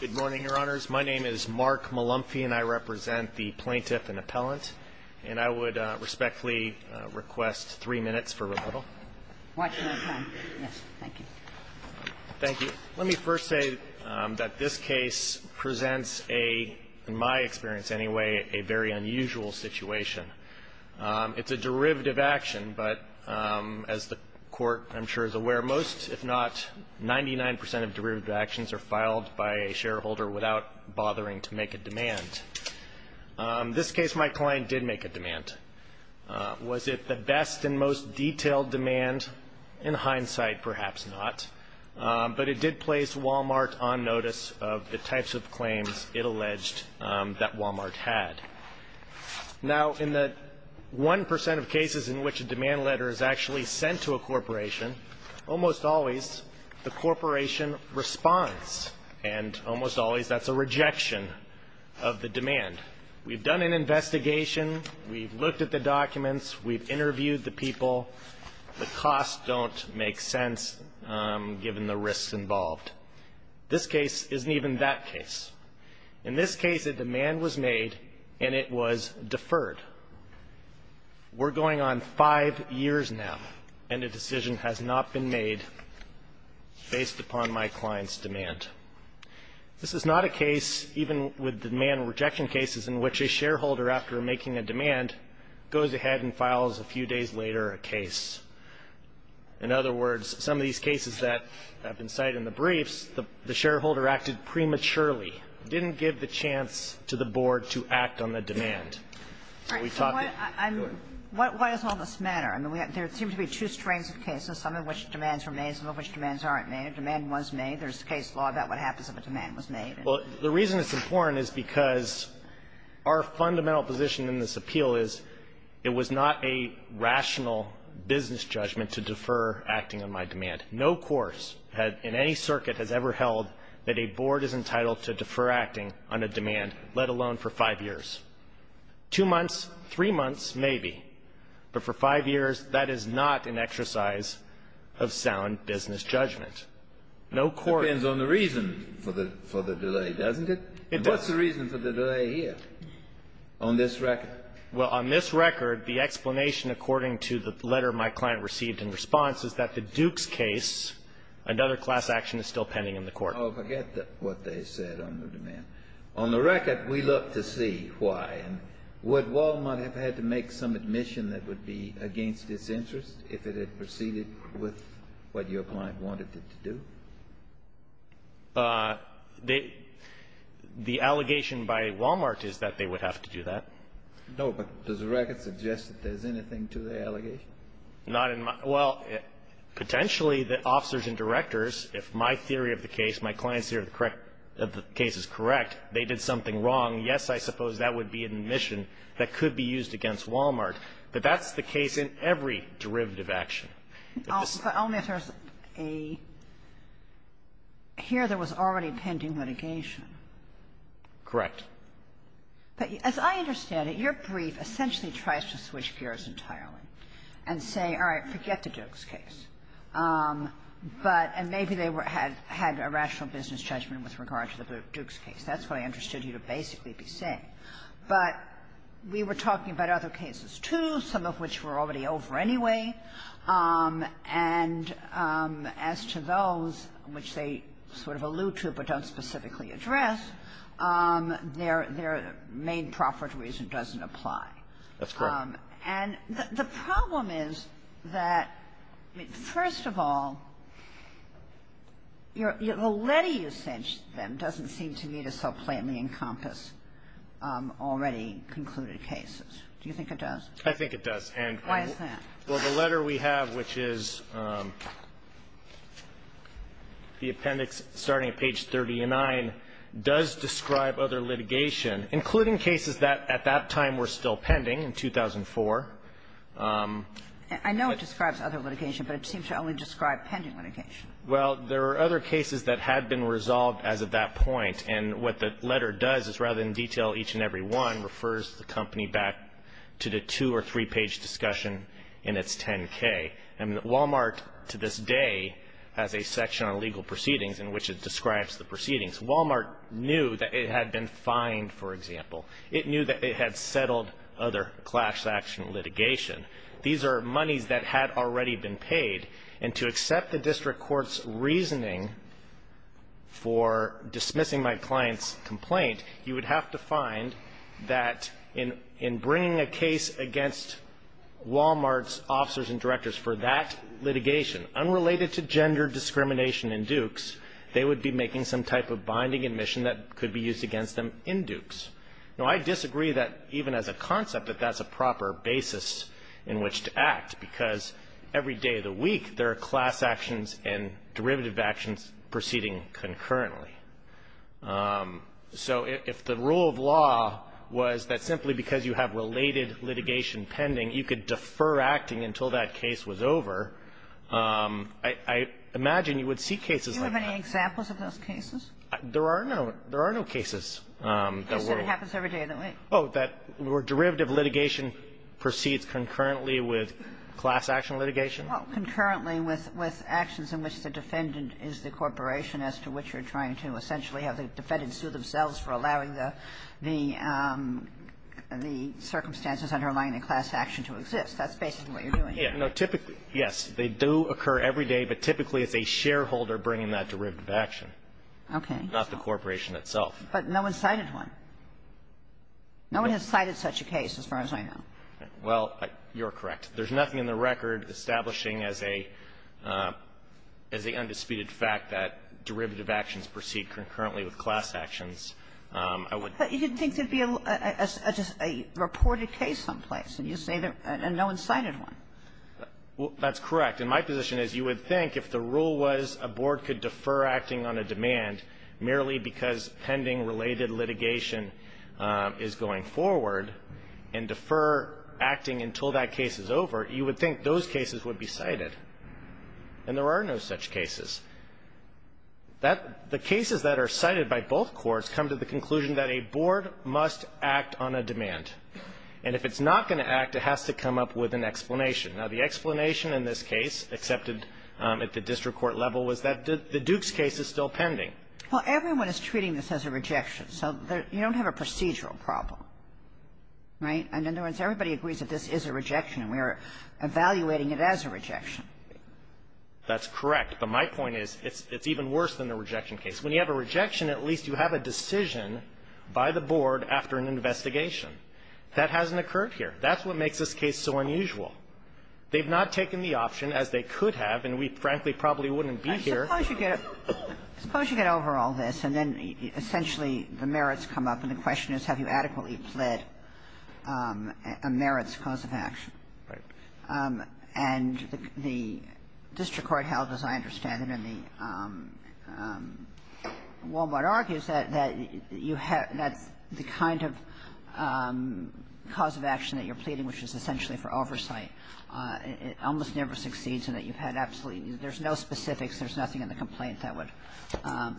Good morning, Your Honors. My name is Mark Malumfy, and I represent the plaintiff and appellant. And I would respectfully request three minutes for rebuttal. Watch your time. Yes. Thank you. Thank you. Let me first say that this case presents a, in my experience anyway, a very unusual situation. It's a derivative action, but as the Court, I'm sure, is aware, most, if not 99 percent of derivative actions are filed by a shareholder without bothering to make a demand. This case, my client did make a demand. Was it the best and most detailed demand? In hindsight, perhaps not. But it did place Walmart on notice of the types of claims it alleged that Walmart had. Now in the one percent of cases in which a demand letter is actually sent to a corporation, almost always the corporation responds. And almost always that's a rejection of the demand. We've done an investigation. We've looked at the documents. We've interviewed the people. The costs don't make sense given the risks involved. This case isn't even that case. In this case, a demand was made, and it was deferred. We're going on five years now, and a decision has not been made based upon my client's demand. This is not a case, even with the demand rejection cases, in which a shareholder, after making a demand, goes ahead and files a few days later a case. In other words, some of these cases that have been cited in the briefs, the shareholder acted prematurely, didn't give the chance to the board to act on the demand. So we thought that we would. All right. So why does all this matter? I mean, we have to assume there's two strains of cases, some of which demands were made, some of which demands aren't made. A demand was made. There's case law about what happens if a demand was made. Well, the reason it's important is because our fundamental position in this appeal is it was not a rational business judgment to defer acting on my demand. No courts in any circuit has ever held that a board is entitled to defer acting on a demand, let alone for five years. Two months, three months, maybe. But for five years, that is not an exercise of sound business judgment. No court- Depends on the reason for the delay, doesn't it? It does. What's the reason for the delay here, on this record? Well, on this record, the explanation according to the letter my client received in response is that the Dukes case, another class action is still pending in the court. Oh, forget what they said on the demand. On the record, we look to see why. And would Walmart have had to make some admission that would be against its interest if it had proceeded with what your client wanted it to do? The allegation by Walmart is that they would have to do that. No, but does the record suggest that there's anything to the allegation? Not in my, well, potentially the officers and directors, if my theory of the case, my client's theory of the case is correct, they did something wrong, yes, I suppose that would be an admission that could be used against Walmart. But that's the case in every derivative action. But only if there's a, here there was already pending litigation. Correct. But as I understand it, your brief essentially tries to switch gears entirely and say, all right, forget the Dukes case. But, and maybe they had a rational business judgment with regard to the Dukes case. That's what I understood you to basically be saying. But we were talking about other cases, too, some of which were already over anyway. And as to those which they sort of allude to but don't specifically address, their main profit reason doesn't apply. That's correct. And the problem is that, first of all, the letter you sent them doesn't seem to me to so plainly encompass already concluded cases. Do you think it does? I think it does. And why is that? Well, the letter we have, which is the appendix starting at page 39, does describe other litigation, including cases that at that time were still pending in 2004. I know it describes other litigation, but it seems to only describe pending litigation. Well, there are other cases that had been resolved as of that point. And what the letter does is rather than detail each and every one, refers the company back to the two or three-page discussion in its 10-K. And Walmart, to this day, has a section on legal proceedings in which it describes the proceedings. Walmart knew that it had been fined, for example. It knew that it had settled other class action litigation. These are monies that had already been paid. And to accept the district court's reasoning for dismissing my client's complaint, you would have to find that in bringing a case against Walmart's officers and directors for that litigation, unrelated to gender discrimination in Dukes, they would be making some type of binding admission that could be used against them in Dukes. Now, I disagree that even as a concept that that's a proper basis in which to act, because every day of the week there are class actions and derivative actions proceeding concurrently. So if the rule of law was that simply because you have related litigation pending, you could defer acting until that case was over, I imagine you would see cases like that. Are there any examples of those cases? There are no. There are no cases that were ---- You said it happens every day of the week. Oh, that were derivative litigation proceeds concurrently with class action litigation? Well, concurrently with actions in which the defendant is the corporation as to which you're trying to essentially have the defendant sue themselves for allowing the circumstances underlying the class action to exist. That's basically what you're doing here. Yeah. No, typically, yes, they do occur every day. But typically, it's a shareholder bringing that derivative action. Okay. Not the corporation itself. But no one cited one. No one has cited such a case as far as I know. Well, you're correct. There's nothing in the record establishing as a undisputed fact that derivative actions proceed concurrently with class actions. I would ---- But you didn't think there would be a reported case someplace, and you say no one cited one. Well, that's correct. And my position is you would think if the rule was a board could defer acting on a demand merely because pending related litigation is going forward and defer acting until that case is over, you would think those cases would be cited. And there are no such cases. That the cases that are cited by both courts come to the conclusion that a board must act on a demand. And if it's not going to act, it has to come up with an explanation. Now, the explanation in this case accepted at the district court level was that the Dukes case is still pending. Well, everyone is treating this as a rejection. So you don't have a procedural problem. Right? In other words, everybody agrees that this is a rejection, and we are evaluating it as a rejection. That's correct. But my point is it's even worse than the rejection case. When you have a rejection, at least you have a decision by the board after an investigation. That hasn't occurred here. That's what makes this case so unusual. They've not taken the option, as they could have, and we frankly probably wouldn't be here. I suppose you get over all this, and then essentially the merits come up, and the question is have you adequately pled a merits cause of action. Right. And the district court held, as I understand it, in the Wal-Mart argues, that you have the kind of cause of action that you're pleading, which is essentially for oversight. It almost never succeeds in that you've had absolutely no specifics. There's nothing in the complaint that would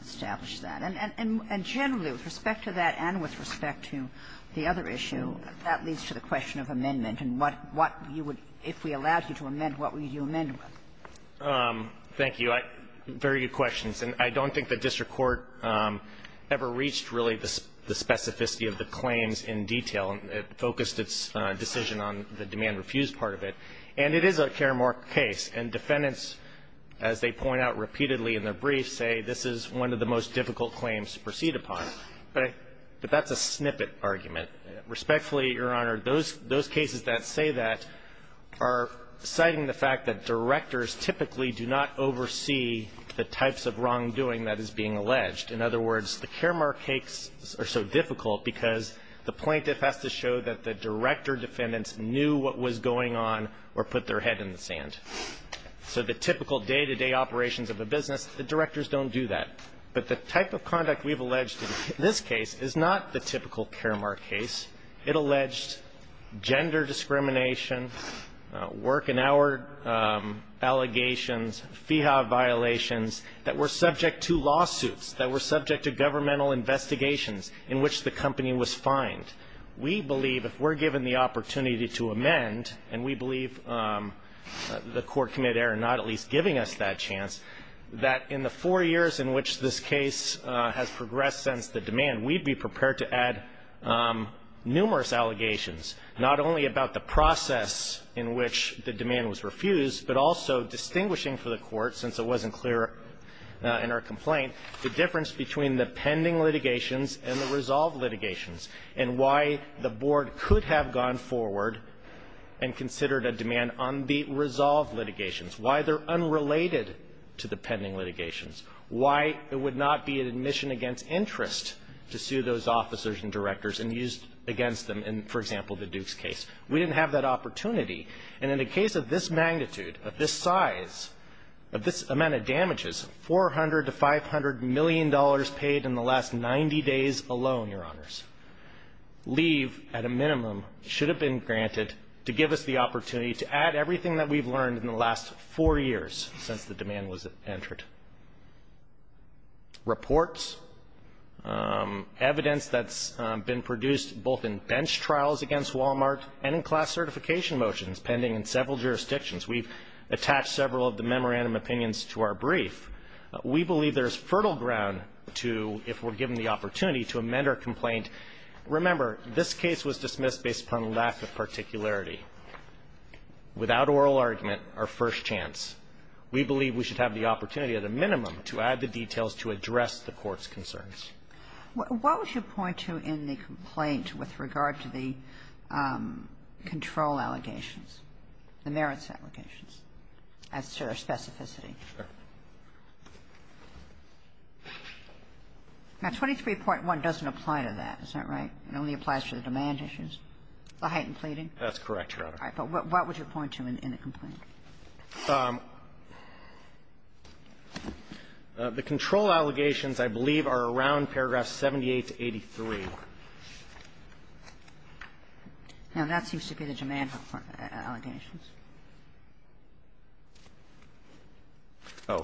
establish that. And generally, with respect to that and with respect to the other issue, that leads to the question of amendment. And what you would, if we allowed you to amend, what would you amend with? Thank you. Very good questions. And I don't think the district court ever reached really the specificity of the claims in detail. It focused its decision on the demand-refused part of it. And it is a Karamark case. And defendants, as they point out repeatedly in their briefs, say this is one of the most difficult claims to proceed upon. But that's a snippet argument. Respectfully, Your Honor, those cases that say that are citing the fact that directors typically do not oversee the types of wrongdoing that is being alleged. In other words, the Karamark cases are so difficult because the plaintiff has to show that the director defendants knew what was going on or put their head in the sand. So the typical day-to-day operations of a business, the directors don't do that. But the type of conduct we've alleged in this case is not the typical Karamark case. It alleged gender discrimination, work and hour allegations, FIHA violations that were subject to governmental investigations in which the company was fined. We believe, if we're given the opportunity to amend, and we believe the court committed error in not at least giving us that chance, that in the four years in which this case has progressed since the demand, we'd be prepared to add numerous allegations, not only about the process in which the demand was refused, but also distinguishing for the court, since it wasn't clear in our complaint, the difference between the pending litigations and the resolved litigations, and why the board could have gone forward and considered a demand on the resolved litigations, why they're unrelated to the pending litigations, why it would not be an admission against interest to sue those officers and directors and use against them in, for example, the Dukes case. We didn't have that opportunity. And in the case of this magnitude, of this size, of this amount of damages, $400 to $500 million paid in the last 90 days alone, Your Honors, leave, at a minimum, should have been granted to give us the opportunity to add everything that we've learned in the last four years since the demand was entered. Reports, evidence that's been produced both in bench trials against Wal-Mart and in class certification motions pending in several jurisdictions. We've attached several of the memorandum opinions to our brief. We believe there's fertile ground to, if we're given the opportunity, to amend our complaint. Remember, this case was dismissed based upon lack of particularity. Without oral argument, our first chance. We believe we should have the opportunity, at a minimum, to add the details to address the Court's concerns. What would you point to in the complaint with regard to the control allegations, the merits allegations, as to their specificity? Now, 23.1 doesn't apply to that, is that right? It only applies to the demand issues, the heightened pleading? That's correct, Your Honor. All right. But what would you point to in the complaint? The control allegations, I believe, are around paragraph 78 to 83. Now, that seems to be the demand allegations. Oh.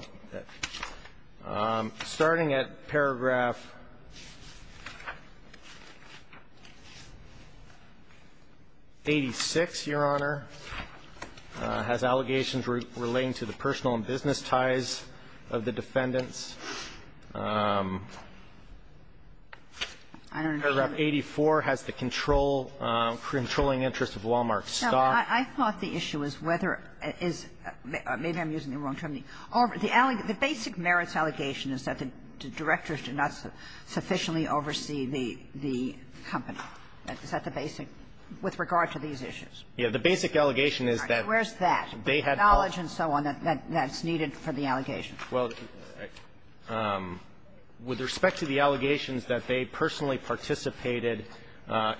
Starting at paragraph 86, Your Honor, has allegations that are related to the demand issues. All the allegations relating to the personal and business ties of the defendants. I don't understand. Paragraph 84 has the control, controlling interest of Wal-Mart's stock. I thought the issue was whether it is the allegation, the basic merits allegation is that the directors do not sufficiently oversee the company. Is that the basic, with regard to these issues? Yeah. The basic allegation is that. Where's that? The knowledge and so on that's needed for the allegation. Well, with respect to the allegations that they personally participated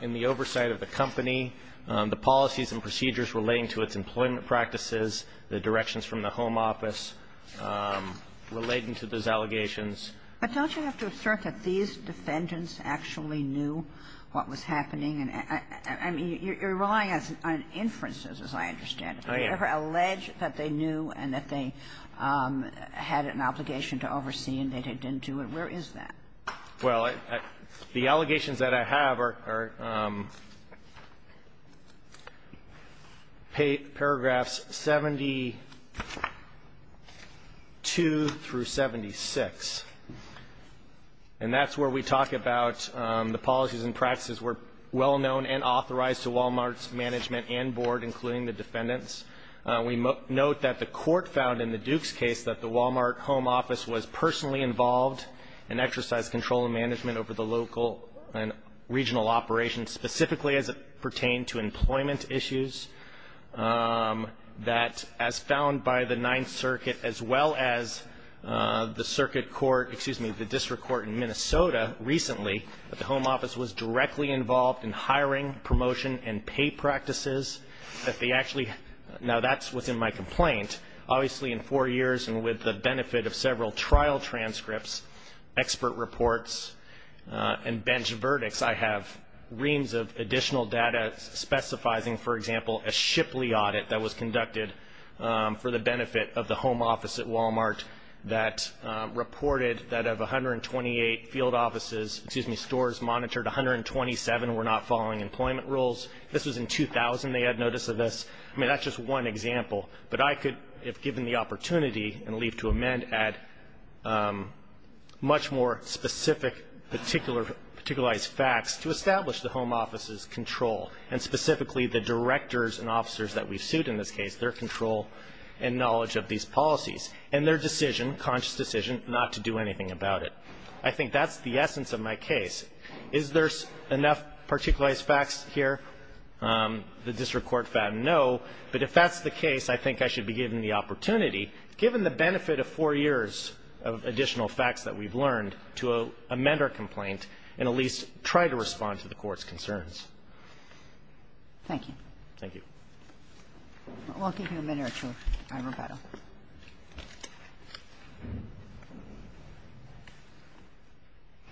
in the oversight of the company, the policies and procedures relating to its employment practices, the directions from the home office relating to those allegations. But don't you have to assert that these defendants actually knew what was happening? And, I mean, you're relying on inferences, as I understand it. Oh, yeah. They never allege that they knew and that they had an obligation to oversee and they didn't do it. Where is that? Well, the allegations that I have are paragraphs 72 through 76. And that's where we talk about the policies and practices were well known and authorized to Walmart's management and board, including the defendants. We note that the court found in the Duke's case that the Walmart home office was personally involved and exercised control and management over the local and regional operations, specifically as it pertained to employment issues, that as found by the Ninth Circuit as well as the circuit court, excuse me, the district court in Minnesota recently, that the home office was directly involved in hiring, promotion and pay practices, that they actually, now that's within my complaint, obviously in four years and with the benefit of several trial transcripts, expert reports and bench verdicts, I have reams of additional data specifying, for example, a Shipley audit that was conducted for the benefit of the home office at Walmart that reported that of 128 field offices, excuse me, stores monitored 127 were not following employment rules. This was in 2000 they had notice of this. I mean, that's just one example. But I could, if given the opportunity and leave to amend, add much more specific, particular, particularized facts to establish the home office's control and specifically the directors and officers that we've sued in this case, their control and knowledge of these policies and their decision, conscious decision, not to do anything about it. I think that's the essence of my case. Is there enough particularized facts here? The district court found no, but if that's the case, I think I should be given the opportunity, given the benefit of four years of additional facts that we've learned, to amend our complaint and at least try to respond to the court's concerns. Thank you. Thank you. We'll give you a minute or two. All right, Roberto.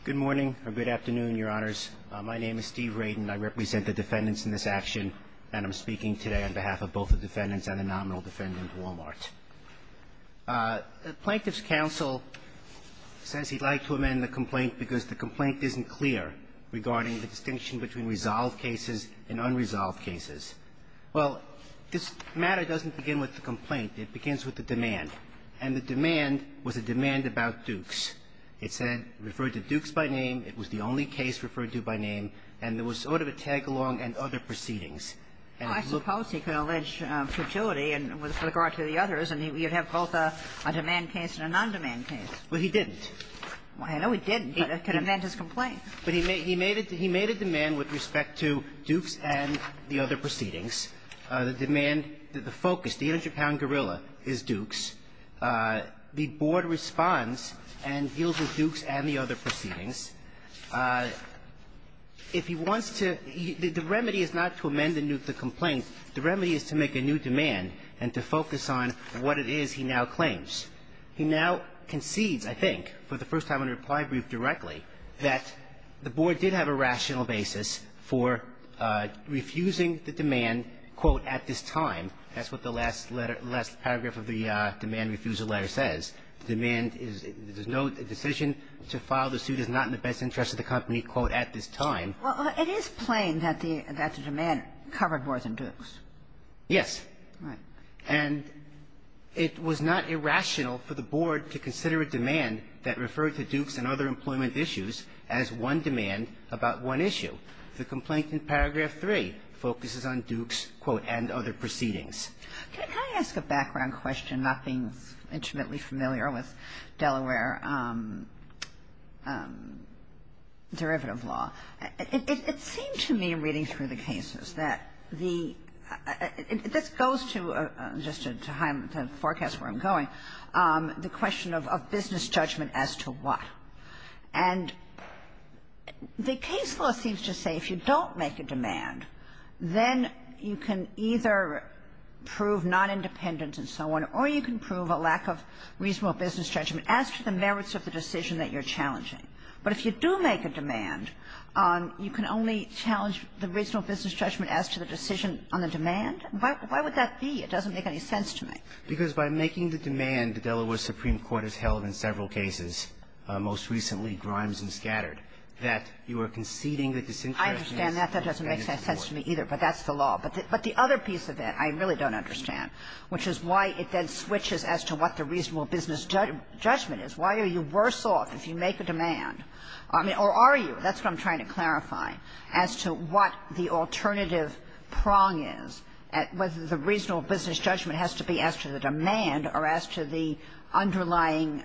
Good morning or good afternoon, Your Honors. My name is Steve Radin. I represent the defendants in this action, and I'm speaking today on behalf of both the defendants and the nominal defendant, Walmart. The Plaintiff's counsel says he'd like to amend the complaint because the complaint isn't clear regarding the distinction between resolved cases and unresolved cases. Well, this matter doesn't begin with the complaint. It begins with the demand, and the demand was a demand about Dukes. It said, referred to Dukes by name. It was the only case referred to by name, and there was sort of a tag-along and other proceedings. I suppose he could allege futility with regard to the others, and you'd have both a demand case and a non-demand case. Well, he didn't. I know he didn't, but that could have meant his complaint. But he made a demand with respect to Dukes and the other proceedings. The demand, the focus, the 100-pound gorilla is Dukes. The Board responds and deals with Dukes and the other proceedings. If he wants to the remedy is not to amend the complaint. The remedy is to make a new demand and to focus on what it is he now claims. He now concedes, I think, for the first time in a reply brief directly, that the Board did have a rational basis for refusing the demand, quote, at this time. That's what the last letter, last paragraph of the demand refusal letter says. The demand is no decision to file the suit is not in the best interest of the company, quote, at this time. Well, it is plain that the demand covered more than Dukes. Yes. Right. And it was not irrational for the Board to consider a demand that referred to Dukes and other employment issues as one demand about one issue. The complaint in paragraph 3 focuses on Dukes, quote, and other proceedings. Can I ask a background question, not being intimately familiar with Delaware derivative law? Well, it seemed to me reading through the cases that the this goes to just to forecast where I'm going, the question of business judgment as to what. And the case law seems to say if you don't make a demand, then you can either prove non-independent and so on, or you can prove a lack of reasonable business judgment as to the merits of the decision that you're challenging. But if you do make a demand, you can only challenge the reasonable business judgment as to the decision on the demand? Why would that be? It doesn't make any sense to me. Because by making the demand, the Delaware Supreme Court has held in several cases, most recently Grimes and Scattered, that you are conceding that this interest in this company is important. I understand that. That doesn't make sense to me, either. But that's the law. But the other piece of it I really don't understand, which is why it then switches as to what the reasonable business judgment is. Why are you worse off if you make a demand? I mean, or are you? That's what I'm trying to clarify, as to what the alternative prong is, whether the reasonable business judgment has to be as to the demand or as to the underlying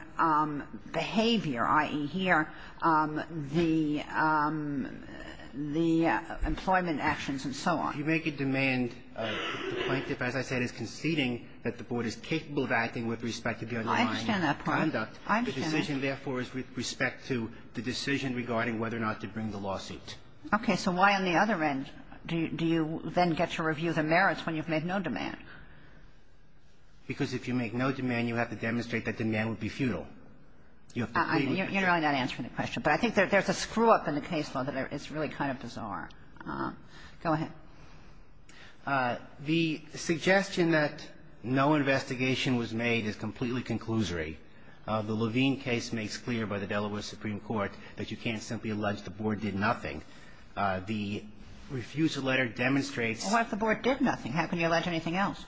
behavior, i.e., here, the employment actions and so on. If you make a demand, the plaintiff, as I said, is conceding that the board is capable of acting with respect to the underlying conduct. I understand that part. The decision, therefore, is with respect to the decision regarding whether or not to bring the lawsuit. Okay. So why, on the other end, do you then get to review the merits when you've made no demand? Because if you make no demand, you have to demonstrate that demand would be futile. You have to plead with it. You're not answering the question. But I think there's a screw-up in the case law that is really kind of bizarre. Go ahead. The suggestion that no investigation was made is completely conclusory. The Levine case makes clear by the Delaware Supreme Court that you can't simply allege the board did nothing. The refusal letter demonstrates What if the board did nothing? How can you allege anything else?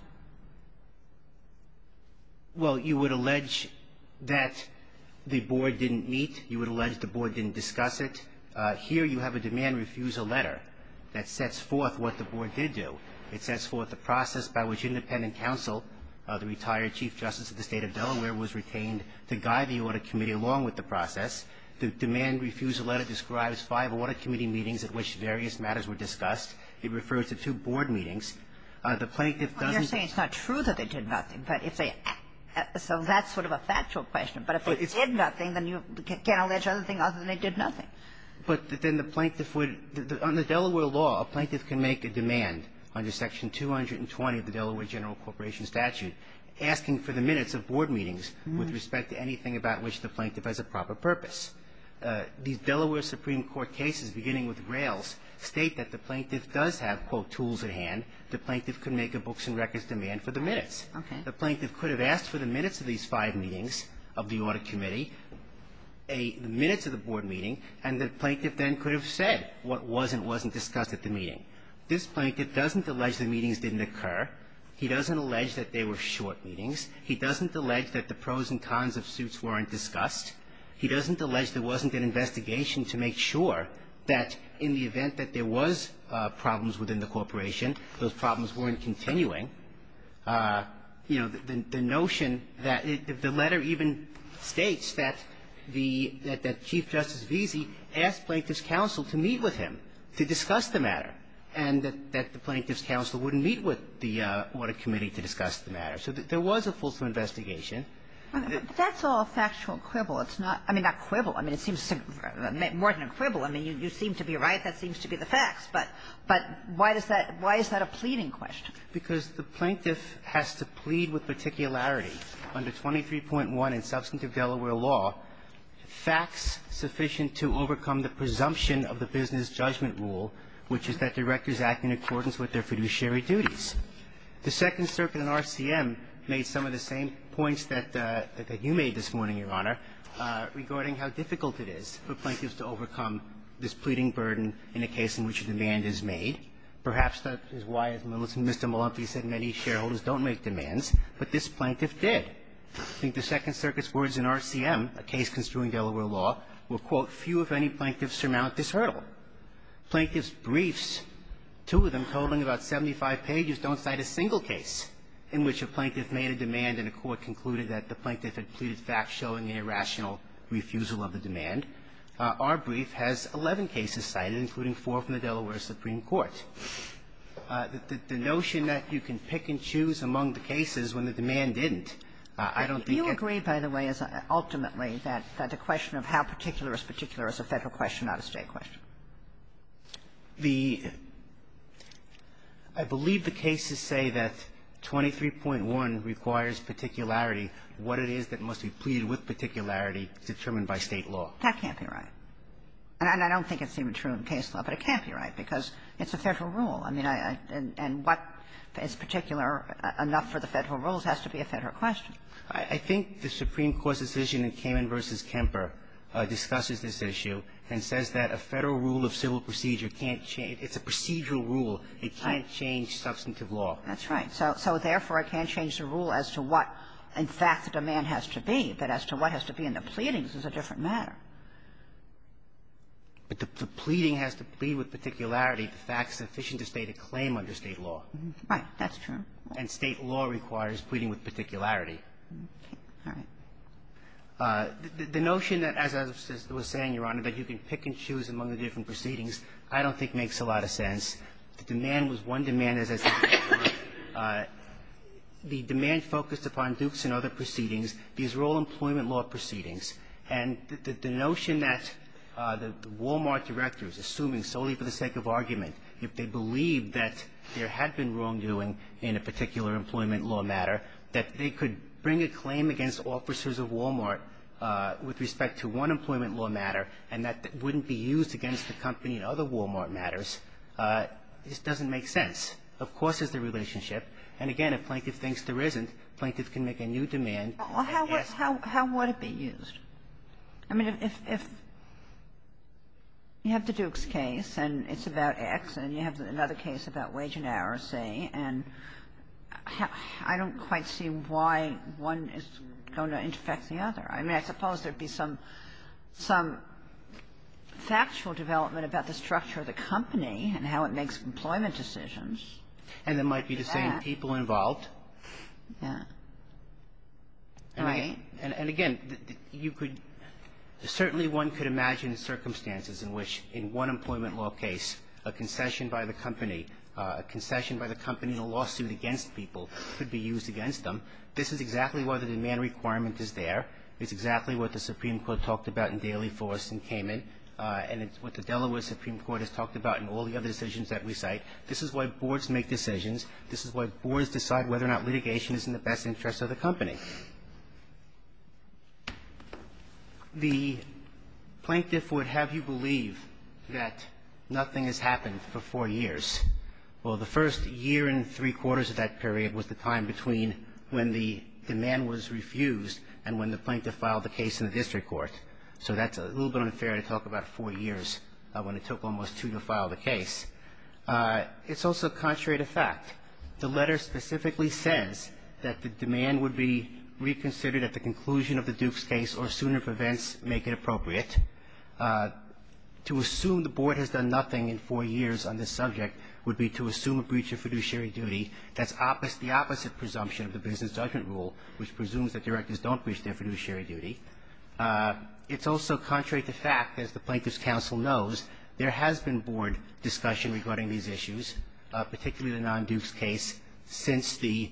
Well, you would allege that the board didn't meet. You would allege the board didn't discuss it. Here, you have a demand refusal letter that sets forth what the board did do. It sets forth the process by which independent counsel, the retired Chief Justice of the State of Delaware, was retained to guide the audit committee along with the process. The demand refusal letter describes five audit committee meetings at which various matters were discussed. It refers to two board meetings. The plaintiff doesn't You're saying it's not true that they did nothing. So that's sort of a factual question. But if they did nothing, then you can't allege anything other than they did nothing. But then the plaintiff would On the Delaware law, a plaintiff can make a demand under Section 220 of the Delaware General Corporation Statute asking for the minutes of board meetings with respect to anything about which the plaintiff has a proper purpose. These Delaware Supreme Court cases, beginning with Rails, state that the plaintiff does have, quote, tools at hand. The plaintiff could make a books and records demand for the minutes. Okay. The plaintiff could have asked for the minutes of these five meetings of the audit committee, the minutes of the board meeting, and the plaintiff then could have said what was and wasn't discussed at the meeting. This plaintiff doesn't allege the meetings didn't occur. He doesn't allege that they were short meetings. He doesn't allege that the pros and cons of suits weren't discussed. He doesn't allege there wasn't an investigation to make sure that in the event that there was problems within the corporation, those problems weren't continuing. You know, the notion that the letter even states that the Chief Justice Veazey asked Plaintiff's counsel to meet with him to discuss the matter. And that the Plaintiff's counsel wouldn't meet with the audit committee to discuss the matter. So there was a full investigation. But that's all factual quibble. It's not – I mean, not quibble. I mean, it seems more than a quibble. I mean, you seem to be right. That seems to be the facts. But why does that – why is that a pleading question? Because the plaintiff has to plead with particularity. Under 23.1 in substantive Delaware law, facts sufficient to overcome the presumption of the business judgment rule, which is that directors act in accordance with their fiduciary duties. The Second Circuit and RCM made some of the same points that you made this morning, Your Honor, regarding how difficult it is for plaintiffs to overcome this pleading burden in a case in which a demand is made. Perhaps that is why, as Mr. Malampy said, many shareholders don't make demands. But this plaintiff did. I think the Second Circuit's words in RCM, a case construing Delaware law, were, quote, few, if any, plaintiffs surmount this hurdle. Plaintiff's briefs, two of them, totaling about 75 pages, don't cite a single case in which a plaintiff made a demand and a court concluded that the plaintiff had pleaded facts showing an irrational refusal of the demand. Our brief has 11 cases cited, including four from the Delaware Supreme Court. The notion that you can pick and choose among the cases when the demand didn't, I don't think it – Ultimately, that the question of how particular is particular is a Federal question not a State question. The – I believe the cases say that 23.1 requires particularity, what it is that must be pleaded with particularity, determined by State law. That can't be right. And I don't think it's even true in case law, but it can't be right, because it's a Federal rule. I mean, I – and what is particular enough for the Federal rules has to be a Federal question. I think the Supreme Court's decision in Kamen v. Kemper discusses this issue and says that a Federal rule of civil procedure can't change – it's a procedural rule. It can't change substantive law. That's right. So therefore, it can't change the rule as to what, in fact, the demand has to be, but as to what has to be in the pleadings is a different matter. But the pleading has to be with particularity the facts sufficient to state a claim under State law. Right. That's true. And State law requires pleading with particularity. Okay. All right. The notion that, as I was saying, Your Honor, that you can pick and choose among the different proceedings I don't think makes a lot of sense. The demand was one demand, as I said before. The demand focused upon Dukes and other proceedings. These were all employment law proceedings. If they believed that there had been wrongdoing in a particular employment law matter, that they could bring a claim against officers of Walmart with respect to one employment law matter, and that wouldn't be used against the company in other Walmart matters, this doesn't make sense. Of course there's the relationship. And again, if Plaintiff thinks there isn't, Plaintiff can make a new demand. Yes. How would it be used? I mean, if you have the Dukes case, and it's about X, and you have another case about wage and hour, say, and I don't quite see why one is going to infect the other. I mean, I suppose there would be some factual development about the structure of the company and how it makes employment decisions. And there might be the same people involved. Yeah. Right. And again, you could – certainly one could imagine circumstances in which in one employment law case, a concession by the company, a concession by the company in a lawsuit against people could be used against them. This is exactly why the demand requirement is there. It's exactly what the Supreme Court talked about in Daly, Forrest, and Kamen. And it's what the Delaware Supreme Court has talked about in all the other decisions that we cite. This is why boards make decisions. This is why boards decide whether or not litigation is in the best interest of the company. The plaintiff would have you believe that nothing has happened for four years. Well, the first year and three-quarters of that period was the time between when the demand was refused and when the plaintiff filed the case in the district court. So that's a little bit unfair to talk about four years when it took almost two to file the case. It's also contrary to fact. The letter specifically says that the demand would be reconsidered at the conclusion of the Duke's case or, sooner if events make it appropriate. To assume the board has done nothing in four years on this subject would be to assume a breach of fiduciary duty. That's the opposite presumption of the business judgment rule, which presumes that directors don't breach their fiduciary duty. It's also contrary to fact, as the Plaintiff's counsel knows, there has been board discussion regarding these issues, particularly the non-Duke's case, since the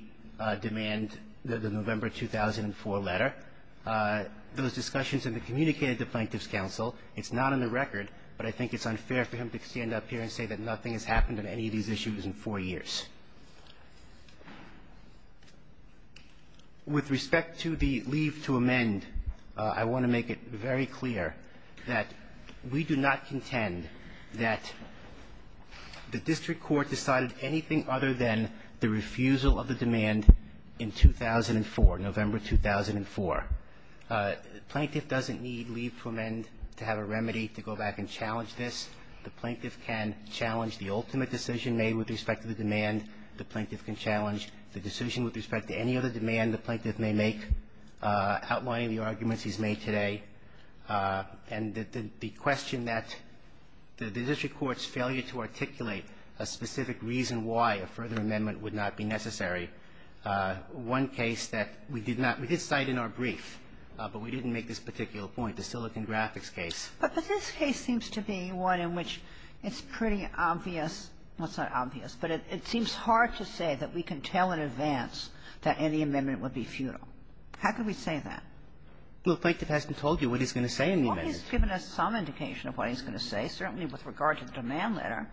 demand of the November 2004 letter. Those discussions have been communicated to the Plaintiff's counsel. It's not on the record, but I think it's unfair for him to stand up here and say that nothing has happened on any of these issues in four years. With respect to the leave to amend, I want to make it very clear that we do not contend that the district court decided anything other than the refusal of the demand in 2004, November 2004. The Plaintiff doesn't need leave to amend to have a remedy to go back and challenge this. The Plaintiff can challenge the ultimate decision made with respect to the demand. The Plaintiff can challenge the decision with respect to any other demand the Plaintiff may make, outlining the arguments he's made today. And the question that the district court's failure to articulate a specific reason why a further amendment would not be necessary, one case that we did not we did cite in our brief, but we didn't make this particular point, the Silicon Graphics case. But this case seems to be one in which it's pretty obvious. Well, it's not obvious, but it seems hard to say that we can tell in advance that any amendment would be futile. How can we say that? Well, the Plaintiff hasn't told you what he's going to say in the amendment. Well, he's given us some indication of what he's going to say, certainly with regard to the demand letter,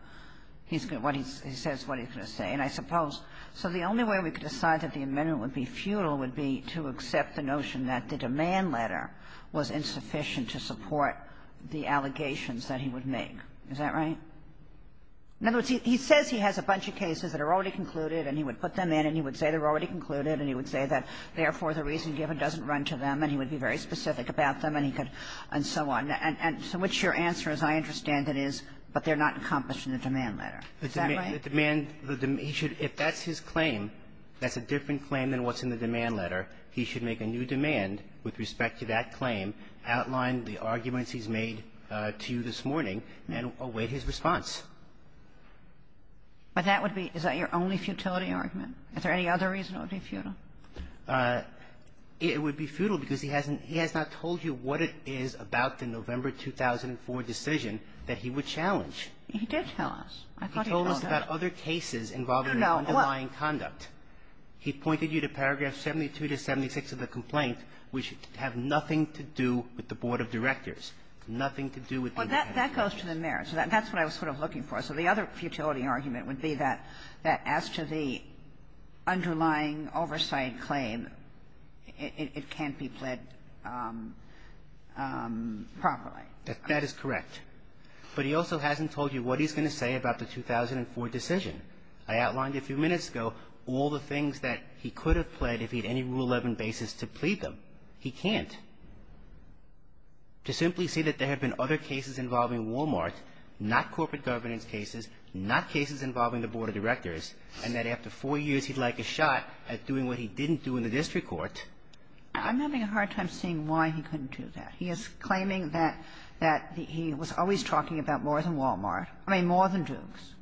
he's going to what he says what he's going to say. And I suppose so the only way we could decide that the amendment would be futile would be to accept the notion that the demand letter was insufficient to support the allegations that he would make. Is that right? In other words, he says he has a bunch of cases that are already concluded and he would run to them and he would be very specific about them and he could, and so on. And to which your answer, as I understand it, is, but they're not accomplished in the demand letter. Is that right? The demand, the demand, he should, if that's his claim, that's a different claim than what's in the demand letter, he should make a new demand with respect to that claim, outline the arguments he's made to you this morning, and await his response. But that would be, is that your only futility argument? Is there any other reason it would be futile? It would be futile because he hasn't, he has not told you what it is about the November 2004 decision that he would challenge. He did tell us. I thought he told us. He told us about other cases involving underlying conduct. He pointed you to paragraphs 72 to 76 of the complaint, which have nothing to do with the board of directors, nothing to do with the overhead of cases. Well, that goes to the merits. That's what I was sort of looking for. So the other futility argument would be that, that as to the underlying oversight claim, it can't be pled properly. That is correct. But he also hasn't told you what he's going to say about the 2004 decision. I outlined a few minutes ago all the things that he could have pled if he had any Rule 11 basis to plead them. He can't. To simply say that there have been other cases involving Walmart, not corporate governance cases, not cases involving the board of directors, and that after four years he'd like a shot at doing what he didn't do in the district court. I'm having a hard time seeing why he couldn't do that. He is claiming that, that he was always talking about more than Walmart, I mean, more than Dukes,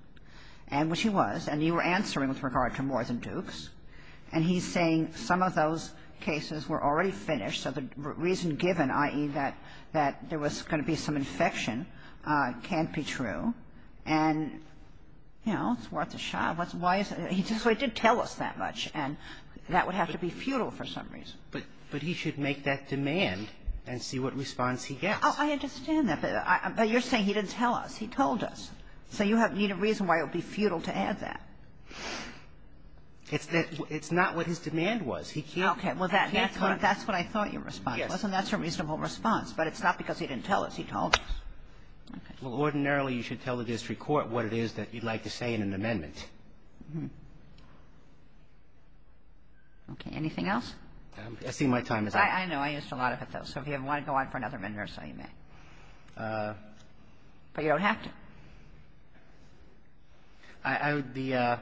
and which he was, and you were answering with regard to more than Dukes, and he's saying some of those cases were already finished, so the reason given, i.e., that there was going to be some infection, can't be true. And, you know, it's worth a shot. Why is it he did tell us that much, and that would have to be futile for some reason. But he should make that demand and see what response he gets. Oh, I understand that. But you're saying he didn't tell us. He told us. So you need a reason why it would be futile to add that. It's not what his demand was. He can't. Okay. Well, that's what I thought your response was, and that's a reasonable response. But it's not because he didn't tell us. He told us. Okay. Well, ordinarily, you should tell the district court what it is that you'd like to say in an amendment. Okay. Anything else? I see my time is up. I know. I asked a lot of it, though. So if you want to go on for another minute or so, you may. But you don't have to. I would be the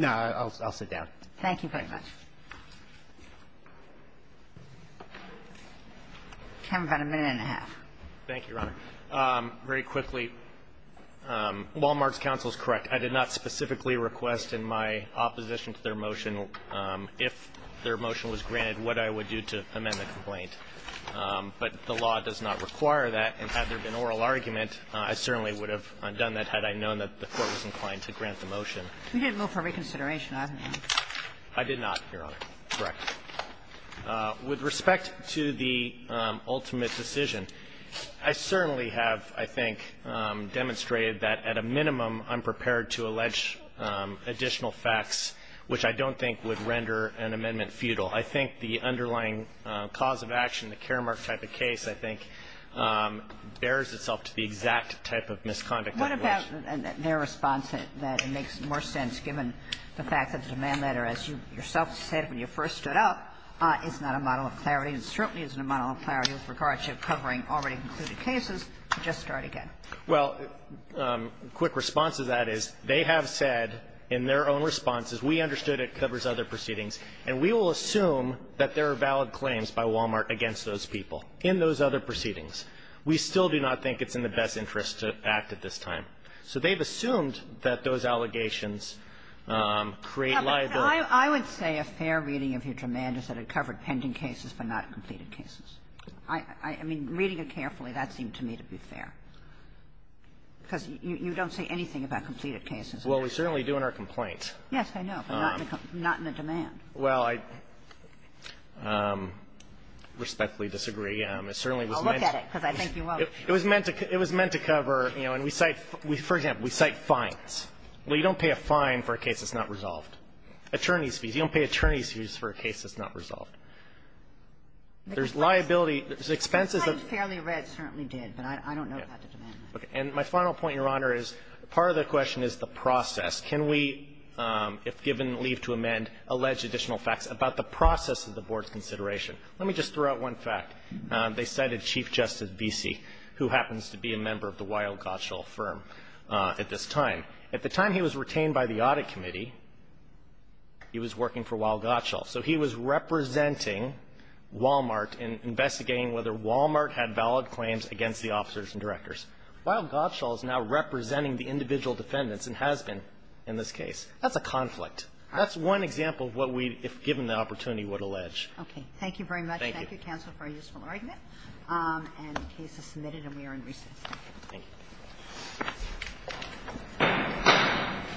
no, I'll sit down. Thank you very much. You have about a minute and a half. Thank you, Your Honor. Very quickly, Walmart's counsel is correct. I did not specifically request in my opposition to their motion, if their motion was granted, what I would do to amend the complaint. But the law does not require that. And had there been oral argument, I certainly would have done that had I known that the court was inclined to grant the motion. You didn't move for reconsideration, either, did you? I did not. Your Honor, correct. With respect to the ultimate decision, I certainly have, I think, demonstrated that at a minimum, I'm prepared to allege additional facts, which I don't think would render an amendment futile. I think the underlying cause of action, the Karamark type of case, I think, bears itself to the exact type of misconduct. What about their response that it makes more sense, given the fact that the demand letter, as you yourself said when you first stood up, is not a model of clarity and certainly isn't a model of clarity with regard to covering already concluded cases, to just start again? Well, quick response to that is, they have said in their own responses, we understood it covers other proceedings, and we will assume that there are valid claims by Walmart against those people in those other proceedings. We still do not think it's in the best interest to act at this time. So they've assumed that those allegations create liable ---- I would say a fair reading of your demand is that it covered pending cases but not completed cases. I mean, reading it carefully, that seemed to me to be fair, because you don't say anything about completed cases. Well, we certainly do in our complaint. Yes, I know, but not in the demand. Well, I respectfully disagree. It certainly was meant to be ---- Well, look at it, because I think you won't. It was meant to cover, you know, and we cite, for example, we cite fines. Well, you don't pay a fine for a case that's not resolved. Attorney's fees. You don't pay attorney's fees for a case that's not resolved. There's liability, there's expenses of ---- Fairly read, certainly did, but I don't know about the demand. Okay. And my final point, Your Honor, is part of the question is the process. Can we, if given leave to amend, allege additional facts about the process of the board's consideration? Let me just throw out one fact. They cited Chief Justice Besee, who happens to be a member of the Weill-Gottschall firm at this time. At the time he was retained by the Audit Committee, he was working for Weill-Gottschall. So he was representing Walmart in investigating whether Walmart had valid claims against the officers and directors. Weill-Gottschall is now representing the individual defendants and has been in this case. That's a conflict. That's one example of what we, if given the opportunity, would allege. Okay. Thank you very much. Thank you. Thank you, counsel, for a useful argument. And the case is submitted and we are in recess. Thank you.